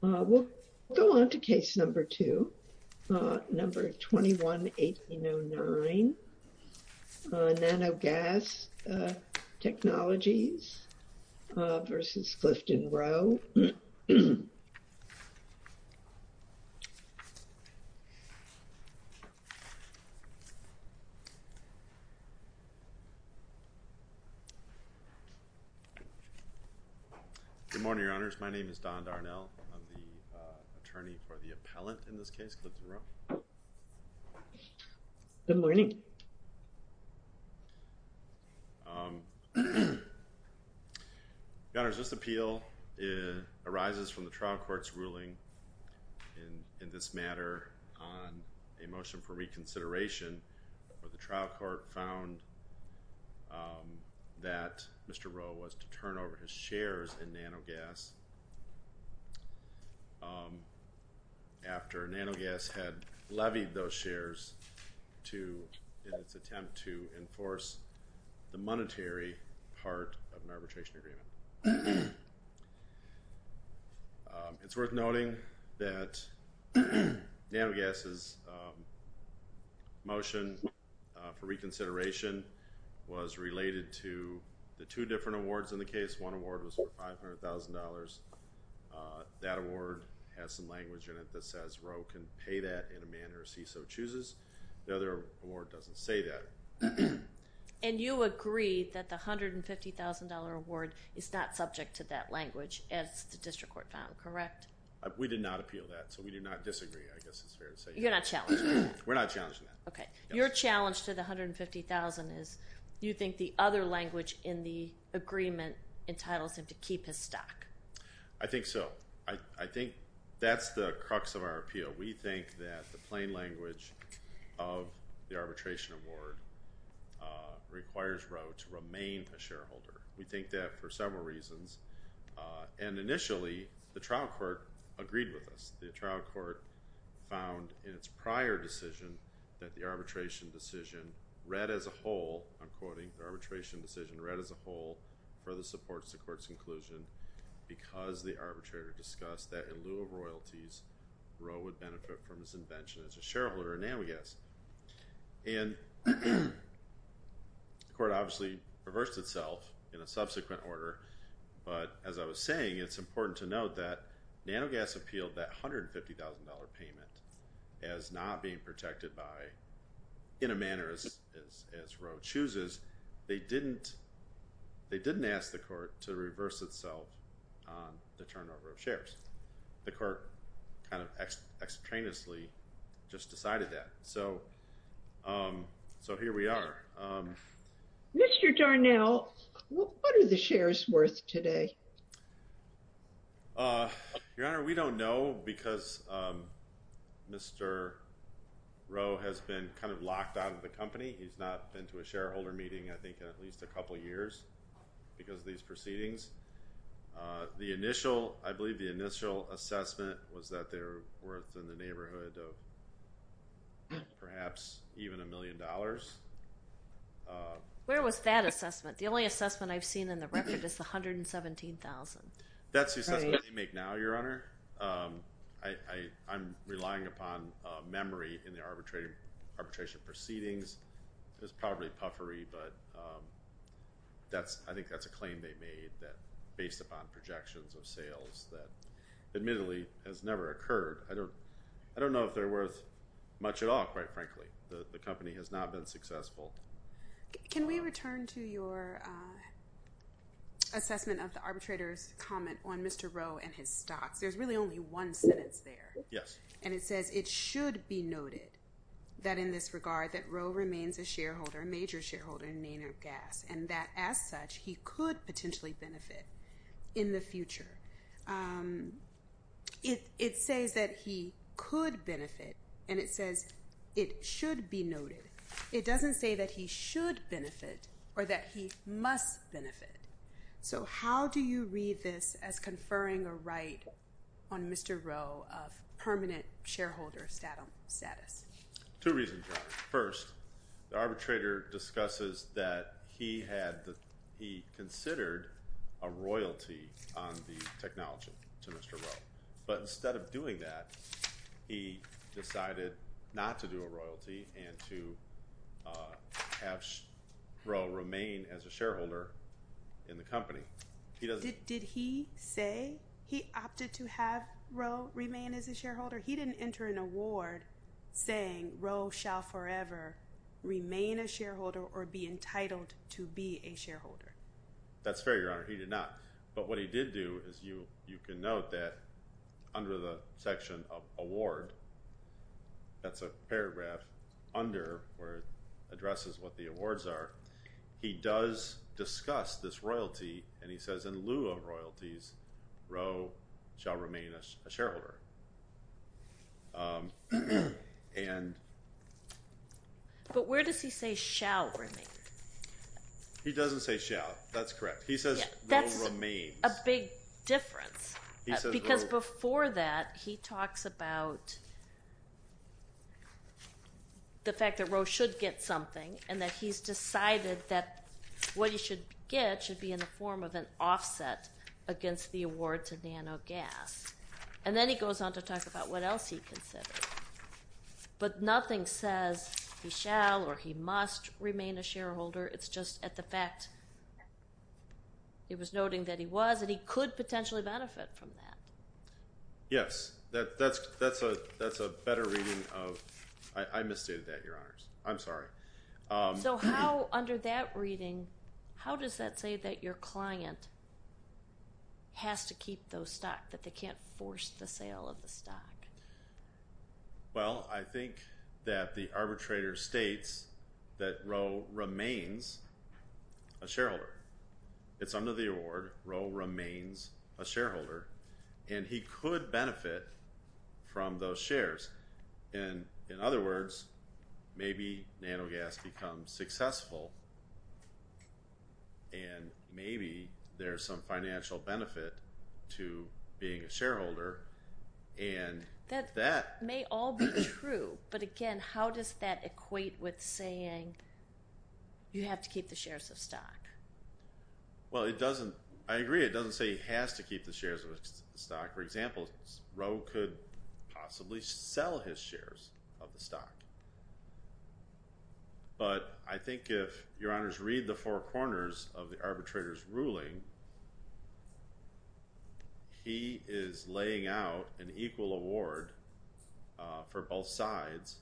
We'll go on to case number two, number 21-1809, Nanogas Technologies v. Clifton Roe. Good morning, Your Honors. My name is Don Darnell. I'm the attorney for the appellant in this case, Clifton Roe. Good morning. Your Honors, this appeal arises from the trial court's ruling in this matter on a motion for reconsideration where the trial court found that Mr. Roe was to turn over his shares in Nanogas after Nanogas had levied those shares in its attempt to enforce the monetary part of an arbitration agreement. It's worth noting that Nanogas' motion for reconsideration was related to the two different awards in the case. One award was for $500,000. That award has some language in it that says Roe can pay that in a manner as he so chooses. The other award doesn't say that. And you agree that the $150,000 award is not subject to that language as the district court found, correct? We did not appeal that, so we do not disagree, I guess it's fair to say. You're not challenging that? We're not challenging that. Your challenge to the $150,000 is you think the other language in the agreement entitles him to keep his stock. I think so. I think that's the crux of our appeal. We think that the plain language of the arbitration award requires Roe to remain a shareholder. We think that for several reasons. And initially, the trial court agreed with us. The trial court found in its prior decision that the arbitration decision read as a whole, I'm quoting, the arbitration decision read as a whole further supports the court's conclusion because the arbitrator discussed that in lieu of royalties, Roe would benefit from his invention as a shareholder of Nanogas. And the court obviously reversed itself in a subsequent order, but as I was saying, it's important to note that Nanogas appealed that $150,000 payment as not being protected by, in a manner as Roe chooses, they didn't ask the court to reverse itself on the turnover of shares. The court kind of extraneously just decided that. So here we are. Mr. Darnell, what are the shares worth today? Your Honor, we don't know because Mr. Roe has been kind of locked out of the company. He's not been to a shareholder meeting, I think, in at least a couple of years because of these proceedings. The initial, I believe the initial assessment was that they're worth in the neighborhood of perhaps even a million dollars. Where was that assessment? The only assessment I've seen in the record is the $117,000. That's the assessment they make now, Your Honor. I'm relying upon memory in the arbitration proceedings. It's probably puffery, but I think that's a claim they made based upon projections of sales that admittedly has never occurred. I don't know if they're worth much at all, quite frankly. The company has not been successful. Can we return to your assessment of the arbitrator's comment on Mr. Roe and his stocks? There's really only one sentence there. Yes. And it says it should be noted that in this regard that Roe remains a shareholder, a major shareholder in Nainer Gas, and that as such he could potentially benefit in the future. It says that he could benefit, and it says it should be noted. It doesn't say that he should benefit or that he must benefit. So how do you read this as conferring a right on Mr. Roe of permanent shareholder status? Two reasons, Your Honor. First, the arbitrator discusses that he considered a royalty on the technology to Mr. Roe. But instead of doing that, he decided not to do a royalty and to have Roe remain as a shareholder in the company. Did he say he opted to have Roe remain as a shareholder? He didn't enter an award saying Roe shall forever remain a shareholder or be entitled to be a shareholder. That's fair, Your Honor. He did not. But what he did do is you can note that under the section of award, that's a paragraph under where it addresses what the awards are, he does discuss this as a shareholder. But where does he say shall remain? He doesn't say shall. That's correct. He says Roe remains. That's a big difference because before that he talks about the fact that Roe should get something and that he's decided that what he should get should be a form of an offset against the award to Nano Gas. And then he goes on to talk about what else he considered. But nothing says he shall or he must remain a shareholder. It's just at the fact he was noting that he was and he could potentially benefit from that. Yes. That's a better reading of... I misstated that, Your Honors. I'm sorry. So how under that reading, how does that say that your client has to keep those stocks, that they can't force the sale of the stock? Well, I think that the arbitrator states that Roe remains a shareholder. It's under the award, Roe remains a shareholder, and he could benefit from those shares. And in other words, maybe Nano Gas becomes successful and maybe there's some financial benefit to being a shareholder. And that may all be true. But again, how does that equate with saying you have to keep the shares of stock? Well, it doesn't. I agree. It doesn't say he has to keep the shares of the stock. For example, Roe could possibly sell his shares of the stock. But I think if, Your Honors, read the four corners of the arbitrator's ruling, he is laying out an equal award for both sides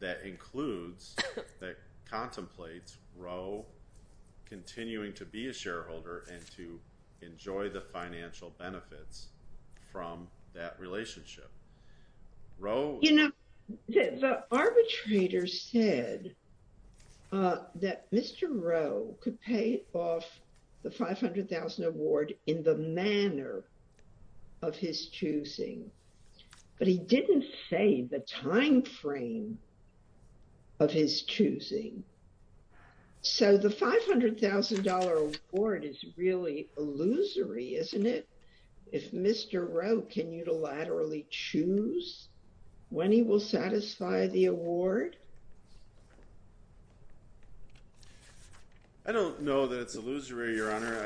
that includes, that contemplates Roe continuing to be a shareholder and to enjoy the financial benefits from that relationship. You know, the arbitrator said that Mr. Roe could pay off the $500,000 award in the manner of his choosing. But he didn't say the time frame of his choosing. So the $500,000 award is really illusory, isn't it? If Mr. Roe can unilaterally choose when he will satisfy the award? I don't know that it's illusory, Your Honor.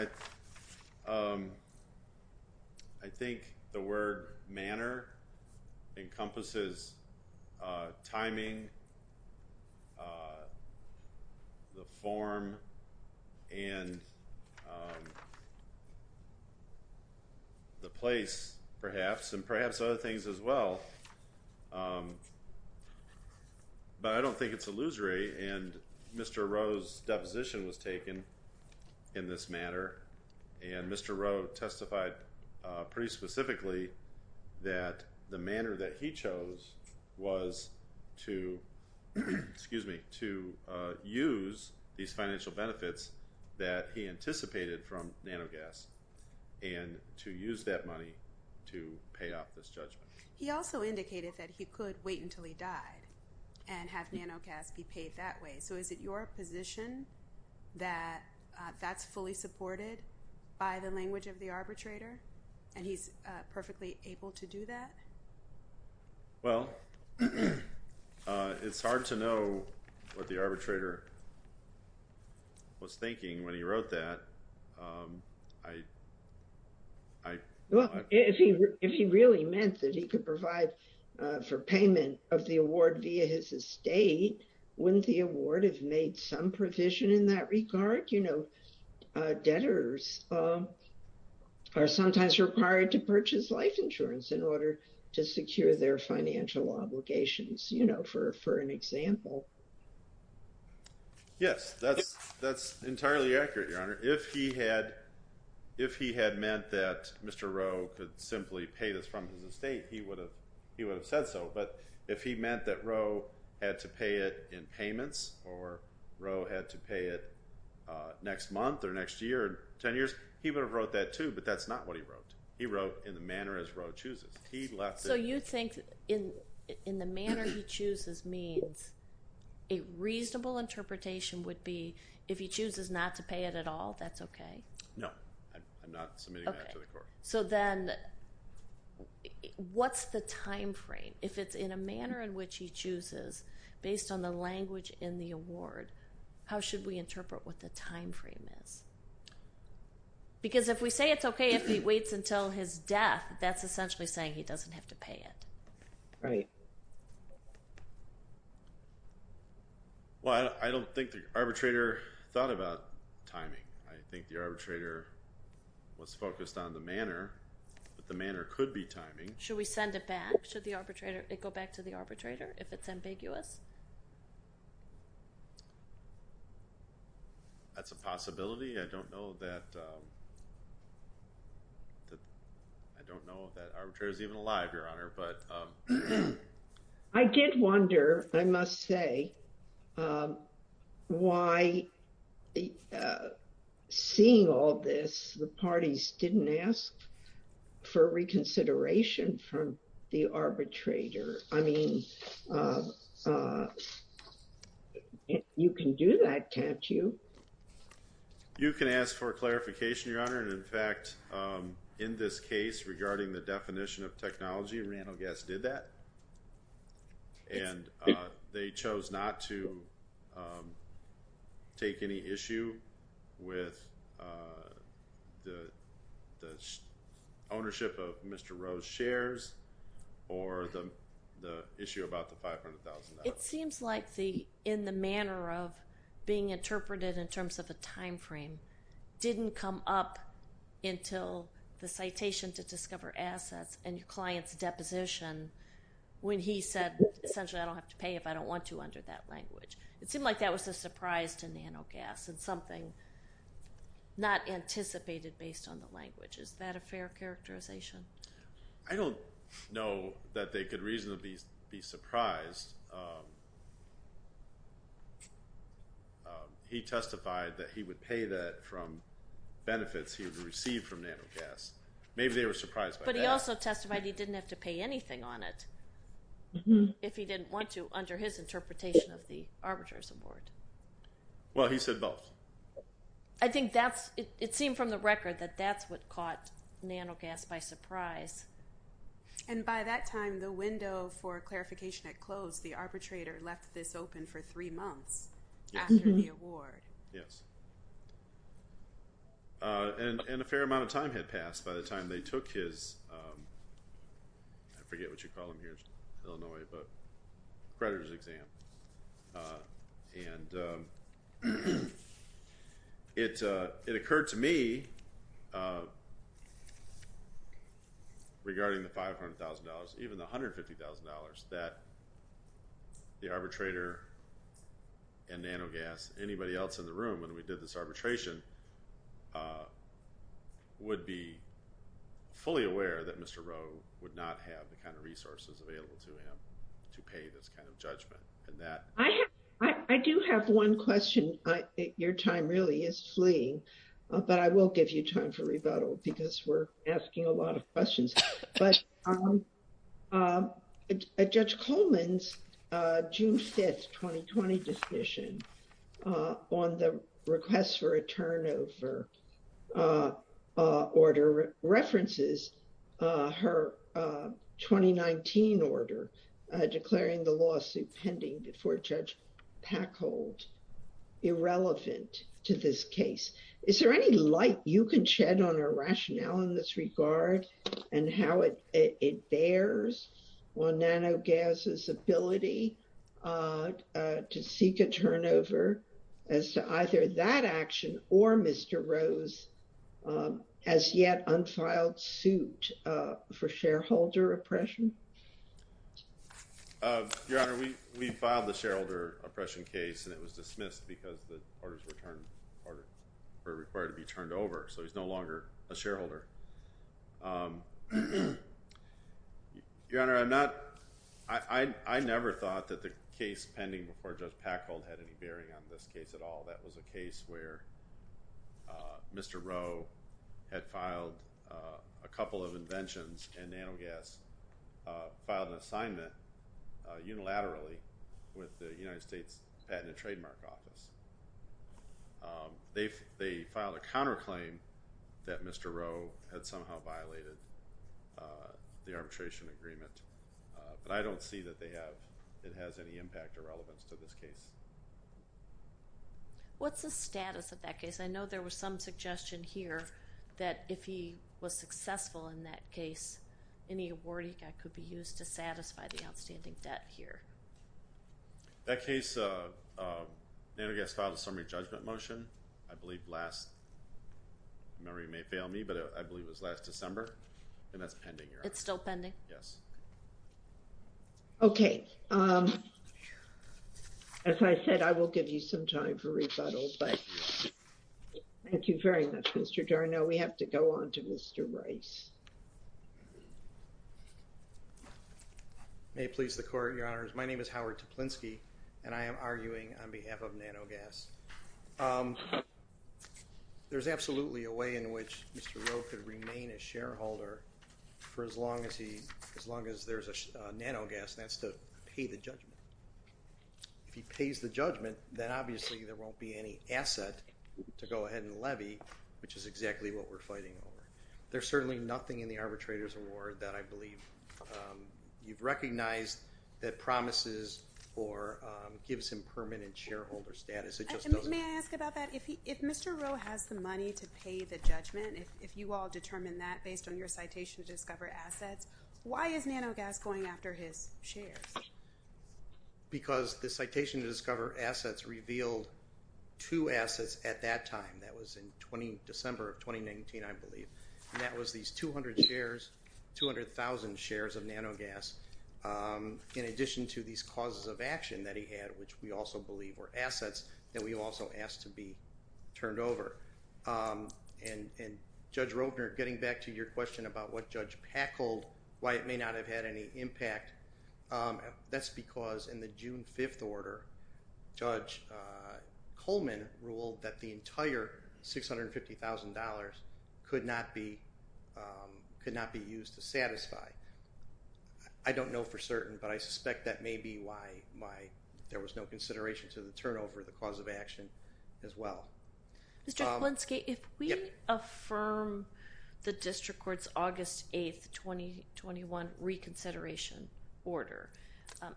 I think the word manner encompasses timing, the form, and the place, perhaps, and perhaps other things as well. But I don't think it's illusory. And Mr. Roe's deposition was taken in this manner. And Mr. Roe testified pretty specifically that the manner that he chose was to, excuse me, to use these financial benefits that he anticipated from Nanogas and to use that money to pay off this judgment. He also indicated that he could wait until he died and have Nanogas be paid that way. So is it your position that that's fully supported by the language of the arbitrator and he's perfectly able to do that? Well, it's hard to know what the arbitrator was thinking when he wrote that. Well, if he really meant that he could provide for payment of the award via his estate, wouldn't the award have made some provision in that regard? You know, debtors are sometimes required to purchase life insurance in order to secure their financial obligations, you know, for an example. Yes, that's entirely accurate, Your Honor. If he had meant that Mr. Roe could simply pay this from his estate, he would have said so. But if he meant that Roe had to pay it in payments or Roe had to pay it next month or next year, 10 years, he would have wrote that too. But that's not what he wrote. He wrote in the manner as Roe chooses. He left it. So you think in the manner he chooses means a reasonable interpretation would be if he chooses not to pay it at all, that's okay? No, I'm not submitting that to the court. So then what's the timeframe? If it's in a manner in which he chooses based on the language in the award, how should we interpret what the timeframe is? Because if we say it's okay if he waits until his death, that's essentially saying he doesn't have to pay it. Right. Well, I don't think the arbitrator thought about timing. I think the arbitrator was focused on the manner, but the manner could be timing. Should we send it back? It go back to the arbitrator if it's ambiguous? That's a possibility. I don't know that arbitrator is even alive, Your Honor. I did wonder, I must say, why seeing all this, the parties didn't ask for reconsideration from the arbitrator. I mean, you can do that, can't you? You can ask for clarification, Your Honor. And in fact, in this case regarding the definition of technology, Randall Guess did that. And they chose not to take any issue with the ownership of Mr. Rowe's shares or the issue about the $500,000. It seems like in the manner of being interpreted in terms of a timeframe didn't come up until the citation to discover assets and your client's deposition when he said, essentially, I don't have to pay if I don't want to under that language. It seemed like that was a surprise to Nanogas and something not anticipated based on the language. Is that a fair characterization? I don't know that they could reasonably be surprised. He testified that he would pay that from benefits he would receive from Nanogas. Maybe they were surprised by that. He also testified he didn't have to pay anything on it if he didn't want to under his interpretation of the arbitrator's award. Well, he said both. I think that's it. It seemed from the record that that's what caught Nanogas by surprise. And by that time, the window for clarification at close, the arbitrator left this open for three months after the award. Yes. And a fair amount of time had passed by the time they took his, I forget what you call them here in Illinois, but creditors exam. And it occurred to me regarding the $500,000, even the $150,000 that the arbitrator and Nanogas, anybody else in the room when we did this arbitration would be fully aware that Mr. Rowe would not have the kind of resources available to him to pay this kind of judgment and that. I do have one question. Your time really is fleeing, but I will give you time for rebuttal because we're asking a lot of questions. But Judge Coleman's June 5th, 2020, decision on the request for a turnover order references her 2019 order declaring the lawsuit pending before Judge Packholt irrelevant to this case. Is there any light you can shed on her rationale in this regard and how it bears on Nanogas' ability to seek a turnover as to either that action or Mr. Rowe's as yet unfiled suit for shareholder oppression? Your Honor, we filed the shareholder oppression case and it was dismissed because the parties were required to be turned over. So he's no longer a shareholder. Your Honor, I never thought that the case pending before Judge Packholt had any bearing on this case at all. That was a case where Mr. Rowe had filed a couple of inventions and Nanogas filed an assignment unilaterally with the United States Patent and Trademark Office. They filed a counterclaim that Mr. Rowe had somehow violated the arbitration agreement. But I don't see that they have, it has any impact or relevance to this case. What's the status of that case? I know there was some suggestion here that if he was successful in that case, any award he got could be used to satisfy the outstanding debt here. That case, uh, uh, Nanogas filed a summary judgment motion, I believe last, remember you may fail me, but I believe it was last December. And that's pending, Your Honor. It's still pending? Yes. Okay, um, as I said, I will give you some time for rebuttal, but thank you very much, Mr. Darno. We have to go on to Mr. Rice. May it please the Court, Your Honors. My name is Howard Toplinsky, and I am arguing on behalf of Nanogas. There's absolutely a way in which Mr. Rowe could remain a shareholder for as long as he, as long as there's a, uh, Nanogas, and that's to pay the judgment. If he pays the judgment, then obviously there won't be any asset to go ahead and levy, which is exactly what we're fighting over. There's certainly nothing in the arbitrator's award that I believe, um, you've recognized that promises or, um, gives him permanent shareholder status. It just doesn't. May I ask about that? If he, if Mr. Rowe has the money to pay the judgment, if you all determine that based on your citation to discover assets, why is Nanogas going after his shares? Because the citation to discover assets revealed two assets at that time. That was in 20, December of 2019, I believe. That was these 200 shares, 200,000 shares of Nanogas, um, in addition to these causes of action that he had, which we also believe were assets that we also asked to be turned over. Um, and, and Judge Roedner, getting back to your question about what Judge Packold, why it may not have had any impact, um, that's because in the June 5th order, Judge, uh, $650,000 could not be, um, could not be used to satisfy. I don't know for certain, but I suspect that may be why, why there was no consideration to the turnover of the cause of action as well. Mr. Klinsky, if we affirm the district court's August 8th, 2021 reconsideration order,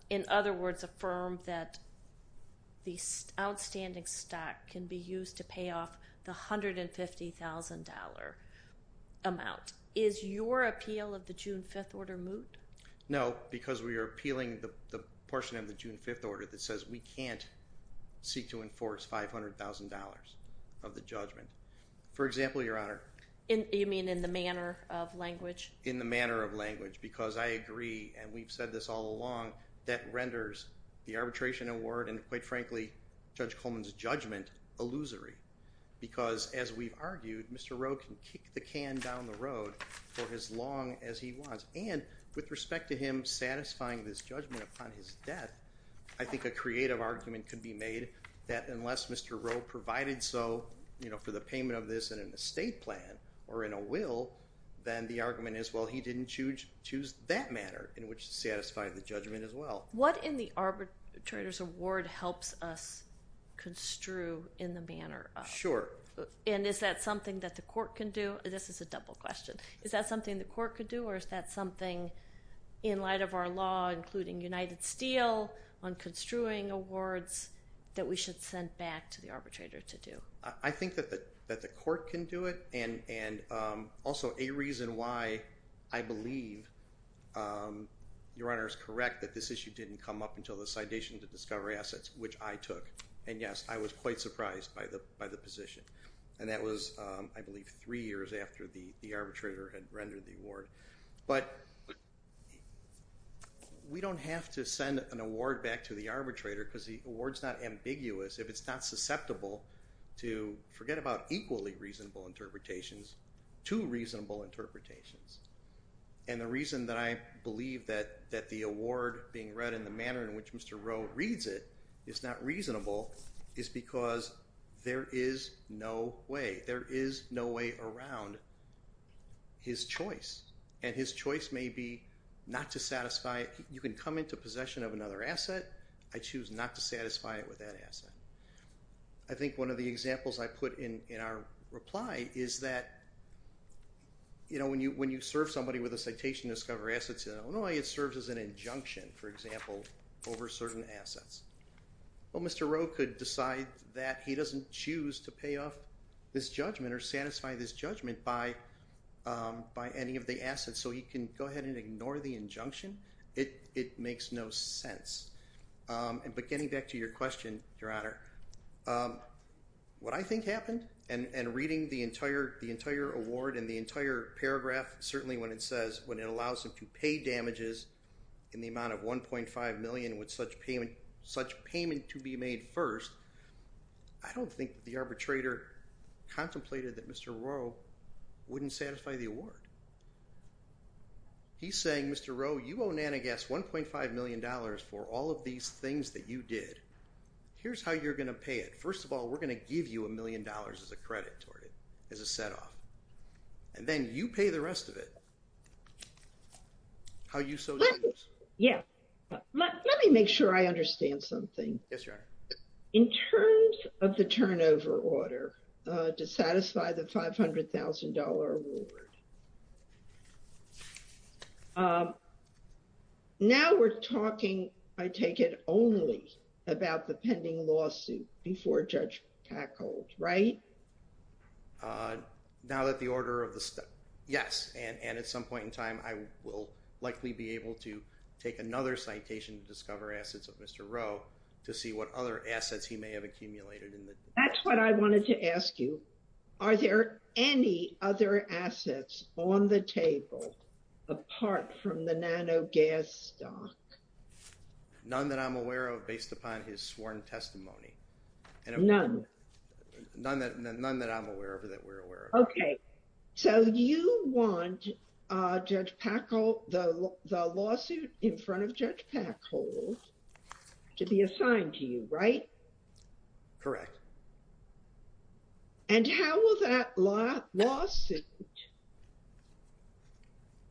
in other words, affirm that the outstanding stock can be used to pay off the $150,000 amount, is your appeal of the June 5th order moot? No, because we are appealing the portion of the June 5th order that says we can't seek to enforce $500,000 of the judgment. For example, Your Honor. In, you mean in the manner of language? In the manner of language, because I agree, and we've said this all along, that renders the arbitration award, and quite frankly, Judge Coleman's judgment, illusory. Because as we've argued, Mr. Roe can kick the can down the road for as long as he wants. And with respect to him satisfying this judgment upon his death, I think a creative argument could be made that unless Mr. Roe provided so, you know, for the payment of this in an estate plan or in a will, then the argument is, well, he didn't choose that manner in which to satisfy the judgment as well. What in the arbitrator's award helps us construe in the manner of? Sure. And is that something that the court can do? This is a double question. Is that something the court could do, or is that something in light of our law, including United Steel, on construing awards that we should send back to the arbitrator to do? I think that the court can do it, and also a reason why I believe, Your Honor, is correct that this issue didn't come up until the Citation to Discovery Assets, which I took. And yes, I was quite surprised by the position. And that was, I believe, three years after the arbitrator had rendered the award. But we don't have to send an award back to the arbitrator, because the award's not ambiguous if it's not susceptible to, forget about equally reasonable interpretations, two reasonable interpretations. And the reason that I believe that the award being read in the manner in which Mr. Rowe reads it is not reasonable is because there is no way. There is no way around his choice. And his choice may be not to satisfy, you can come into possession of another asset. I choose not to satisfy it with that asset. I think one of the examples I put in our reply is that, you know, when you serve somebody with a Citation to Discovery Assets in Illinois, it serves as an injunction, for example, over certain assets. Well, Mr. Rowe could decide that he doesn't choose to pay off this judgment or satisfy this judgment by any of the assets. So he can go ahead and ignore the injunction. It makes no sense. But getting back to your question, Your Honor, what I think happened, and reading the entire award and the entire paragraph, certainly when it says, when it allows him to pay damages in the amount of $1.5 million with such payment to be made first, I don't think the arbitrator contemplated that Mr. Rowe wouldn't satisfy the award. He's saying, Mr. Rowe, you owe Nanogast $1.5 million for all of these things that you did. Here's how you're going to pay it. First of all, we're going to give you a million dollars as a credit toward it, as a set off. And then you pay the rest of it. How you so choose. Yeah. Let me make sure I understand something. Yes, Your Honor. In terms of the turnover order to satisfy the $500,000 award, does that mean you're not going to pay the $2,000? No. Now we're talking, I take it only, about the pending lawsuit before Judge Tackold, right? Now that the order of the... Yes. And at some point in time, I will likely be able to take another citation to discover assets of Mr. Rowe to see what other assets he may have accumulated in the... That's what I wanted to ask you. Are there any other assets on the table apart from the nanogas stock? None that I'm aware of based upon his sworn testimony. None? None that I'm aware of or that we're aware of. Okay. So you want the lawsuit in front of Judge Tackold to be assigned to you, right? Correct. And how will that lawsuit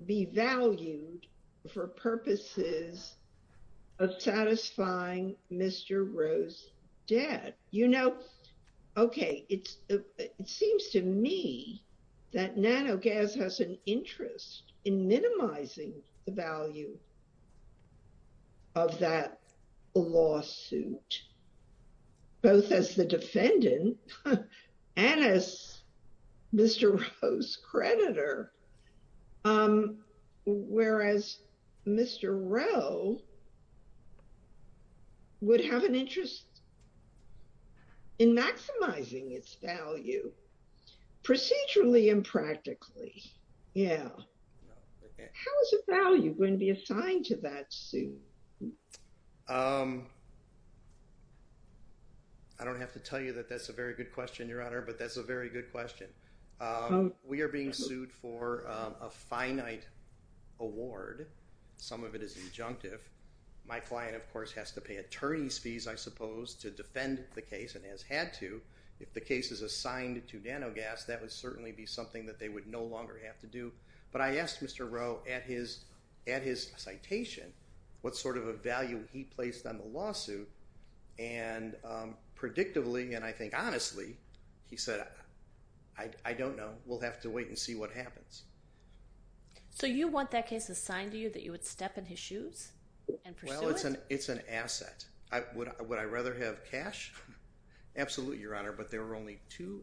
be valued for purposes of satisfying Mr. Rowe's debt? You know, okay, it seems to me that nanogas has an interest in minimizing the value of that lawsuit, both as the defendant and as Mr. Rowe's creditor, whereas Mr. Rowe would have an interest in maximizing its value procedurally and practically. Yeah. How is the value going to be assigned to that suit? I don't have to tell you that that's a very good question, Your Honor, but that's a very good question. We are being sued for a finite award. Some of it is injunctive. My client, of course, has to pay attorney's fees, I suppose, to defend the case and has had to. If the case is assigned to nanogas, that would certainly be something that they would no longer have to do. But I asked Mr. Rowe at his citation what sort of a value he placed on the lawsuit, and predictably, and I think honestly, he said, I don't know. We'll have to wait and see what happens. So you want that case assigned to you that you would step in his shoes and pursue it? Well, it's an asset. Would I rather have cash? Absolutely, Your Honor, but there were only two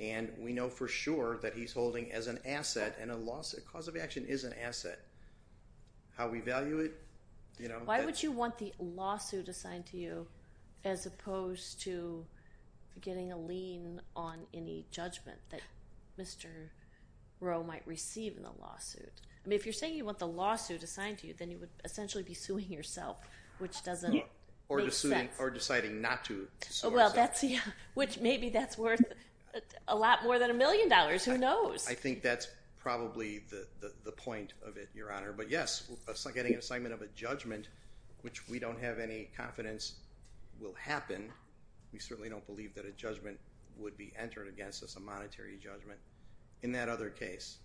and we know for sure that he's holding as an asset and a lawsuit cause of action is an asset. How we value it? Why would you want the lawsuit assigned to you as opposed to getting a lien on any judgment that Mr. Rowe might receive in the lawsuit? I mean, if you're saying you want the lawsuit assigned to you, then you would essentially be suing yourself, which doesn't make sense. Or deciding not to sue yourself. Well, that's, yeah, which maybe that's worth a lot more than a million dollars. Who knows? I think that's probably the point of it, Your Honor. But yes, getting an assignment of a judgment, which we don't have any confidence will happen. We certainly don't believe that a judgment would be entered against us, a monetary judgment, in that other case.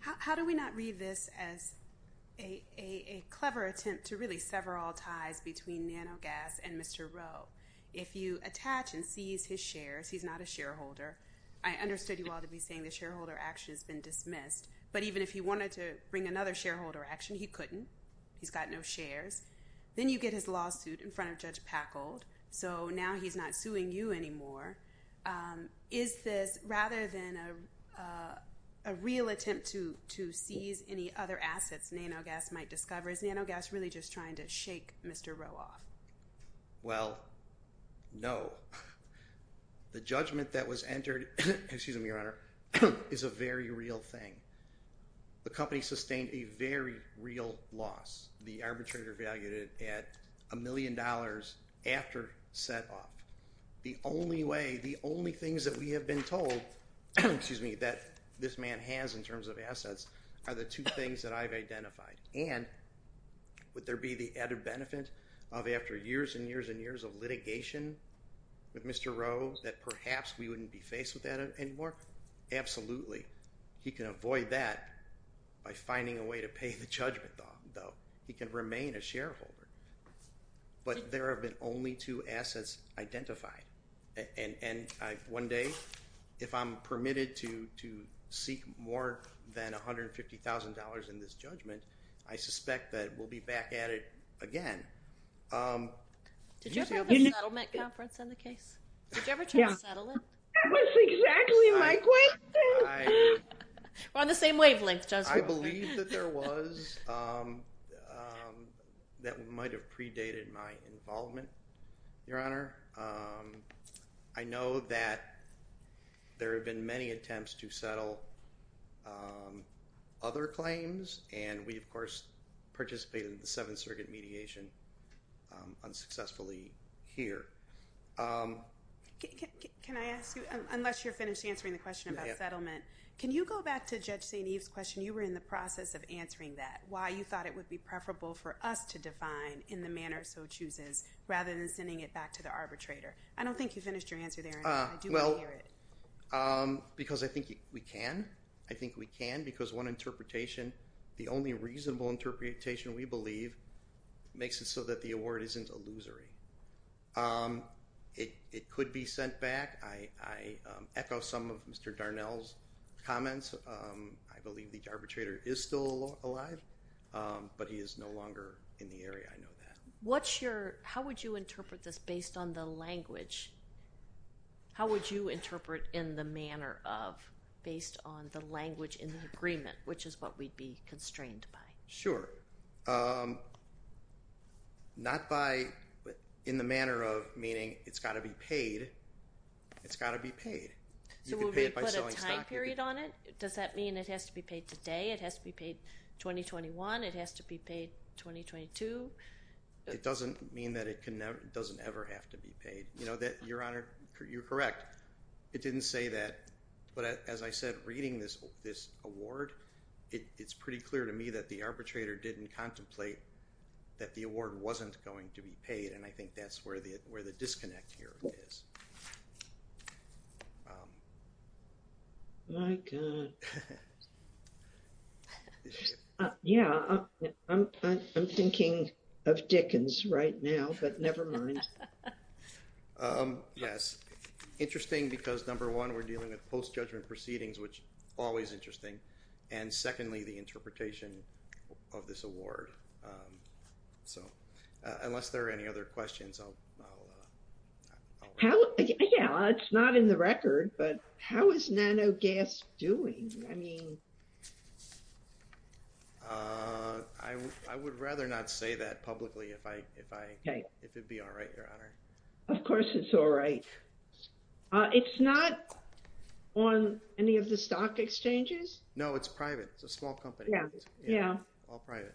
How do we not read this as a clever attempt to really sever all ties between Nanogas and Mr. Rowe? If you attach and seize his shares, he's not a shareholder. I understood you all to be saying the shareholder action has been dismissed, but even if he wanted to bring another shareholder action, he couldn't. He's got no shares. Then you get his lawsuit in front of Judge Packold, so now he's not suing you anymore. Is this, rather than a real attempt to seize any other assets Nanogas might discover, is Nanogas really just trying to shake Mr. Rowe off? Well, no. The judgment that was entered, excuse me, Your Honor, is a very real thing. The company sustained a very real loss. The arbitrator valued it at a million dollars after set off. The only way, the only things that we have been told, excuse me, that this man has in terms of assets are the two things that I've identified. And would there be the added benefit of after years and years and years of litigation with Mr. Rowe that perhaps we wouldn't be faced with that anymore? Absolutely. He can avoid that by finding a way to pay the judgment though. He can remain a shareholder. But there have been only two assets identified. And one day, if I'm permitted to seek more than $150,000 in this judgment, I suspect that we'll be back at it again. Did you ever have a settlement conference on the case? Did you ever try to settle it? That was exactly my question. We're on the same wavelength. I believe that there was. That might have predated my involvement, Your Honor. I know that there have been many attempts to settle other claims. And we, of course, participated in the Seventh Circuit mediation unsuccessfully here. Can I ask you, unless you're finished answering the question about settlement, can you go back to Judge St. Eve's question? You were in the process of answering that, why you thought it would be preferable for us to define in the manner so chooses, rather than sending it back to the arbitrator. I don't think you finished your answer there. Because I think we can. I think we can. Because one interpretation, the only reasonable interpretation we believe makes it so that the award isn't illusory. It could be sent back. I echo some of Mr. Darnell's comments. I believe the arbitrator is still alive, but he is no longer in the area. I know that. How would you interpret this based on the language? How would you interpret in the manner of, based on the language in the agreement, which is what we'd be constrained by? Sure. Not by, in the manner of meaning it's got to be paid. It's got to be paid. So would we put a time period on it? Does that mean it has to be paid today? It has to be paid 2021? It has to be paid 2022? It doesn't mean that it can never, doesn't ever have to be paid. You know that, Your Honor, you're correct. It didn't say that. But as I said, reading this award, it's pretty clear to me that the arbitrator didn't contemplate that the award wasn't going to be paid. And I think that's where the disconnect here is. My God. Yeah, I'm thinking of Dickens right now, but never mind. Yes. Interesting, because number one, we're dealing with post-judgment proceedings, which always interesting. And secondly, the interpretation of this award. So unless there are any other questions, I'll... Yeah, it's not in the record, but how is Nanogas doing? I mean... I would rather not say that publicly if it'd be all right, Your Honor. Of course, it's all right. It's not on any of the stock exchanges? No, it's private. It's a small company. Yeah. All private.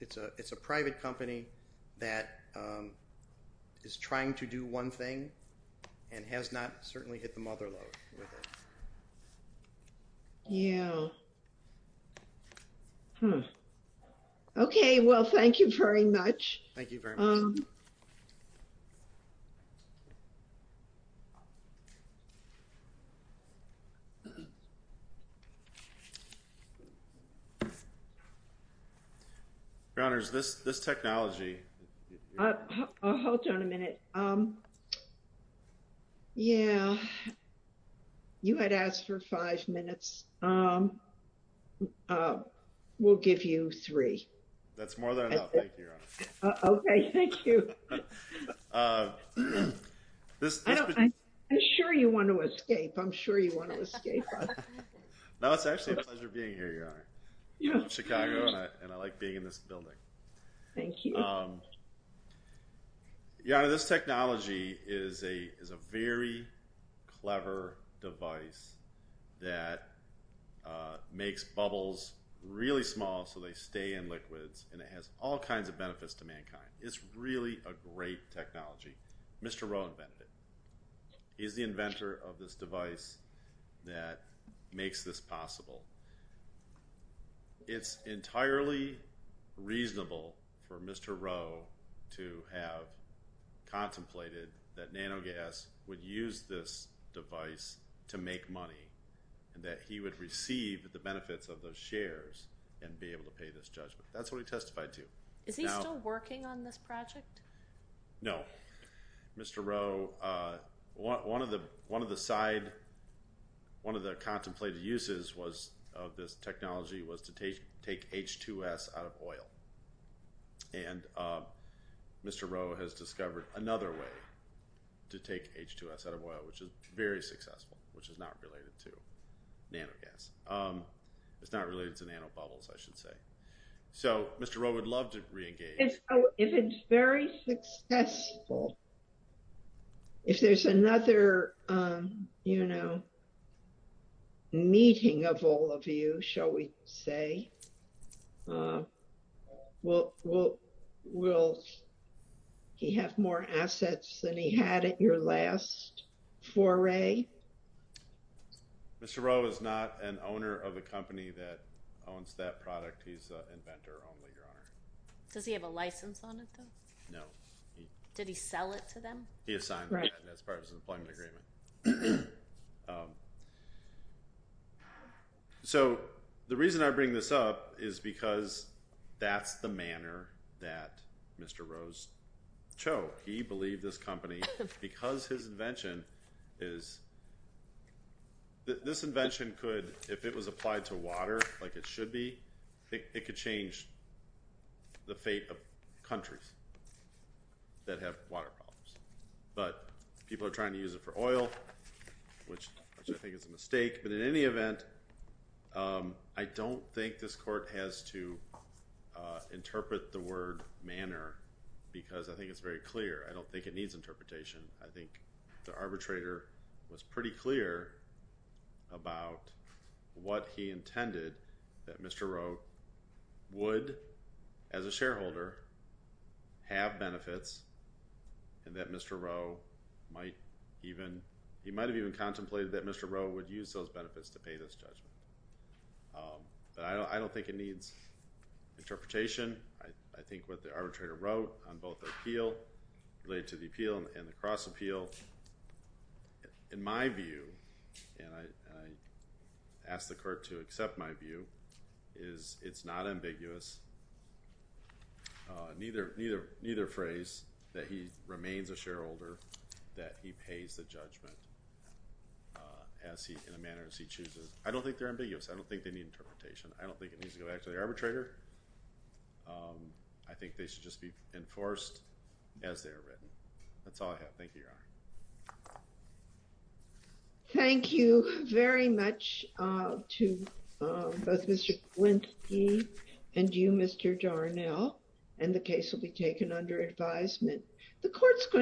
It's a private company that is trying to do one thing and has not certainly hit the mother load with it. Yeah. Okay. Well, thank you very much. Thank you very much. Your Honors, this technology... Hold on a minute. Yeah. You had asked for five minutes. We'll give you three. That's more than enough. Thank you, Your Honor. Okay. Thank you. I'm sure you want to escape. I'm sure you want to escape. No, it's actually a pleasure being here, Your Honor. I'm from Chicago and I like being in this makes bubbles really small so they stay in liquids and it has all kinds of benefits to mankind. It's really a great technology. Mr. Rowe invented it. He's the inventor of this device that makes this possible. It's entirely reasonable for Mr. Rowe to have contemplated that Nanogas would use this device to make money and that he would receive the benefits of those shares and be able to pay this judgment. That's what he testified to. Is he still working on this project? No. Mr. Rowe, one of the contemplated uses of this technology was to take H2S out of oil. And Mr. Rowe has discovered another way to take H2S out of oil, which is very successful, which is not related to Nanogas. It's not related to nanobubbles, I should say. Mr. Rowe would love to re-engage. If it's very successful, if there's another meeting of all of you, shall we say, will he have more assets than he had at your last foray? Mr. Rowe is not an owner of a company that owns that product. He's an inventor only, Your Honor. Does he have a license on it, though? No. Did he sell it to them? He assigned it as part of his employment agreement. So the reason I bring this up is because that's the manner that Mr. Rowe chose. He believed this company, because his invention is, this invention could, if it was applied to water like it should be, it could change the fate of countries that have water problems. But people are trying to use it for oil, which I think is a mistake. But in any event, I don't think this court has to interpret the word manner because I think it's very clear. I don't think it needs interpretation. I think the arbitrator was pretty clear about what he intended that Mr. Rowe would, as a shareholder, have benefits and that Mr. Rowe might even, he might have even contemplated that Mr. Rowe would use those benefits to pay this judgment. But I don't think it needs interpretation. I think what the arbitrator wrote on both the appeal, related to the appeal and the cross appeal, in my view, and I ask the court to accept my view, is it's not ambiguous. Neither, neither, neither phrase that he remains a shareholder, that he pays the judgment as he, in a manner as he chooses. I don't think they're ambiguous. I don't think they need interpretation. I don't think it needs to go back to the arbitrator. I think they should just be enforced as they are written. That's all I have. Thank you, Your Honor. Thank you very much to both Mr. Glinsky and you, Mr. Darnell, and the case will be taken under advisement.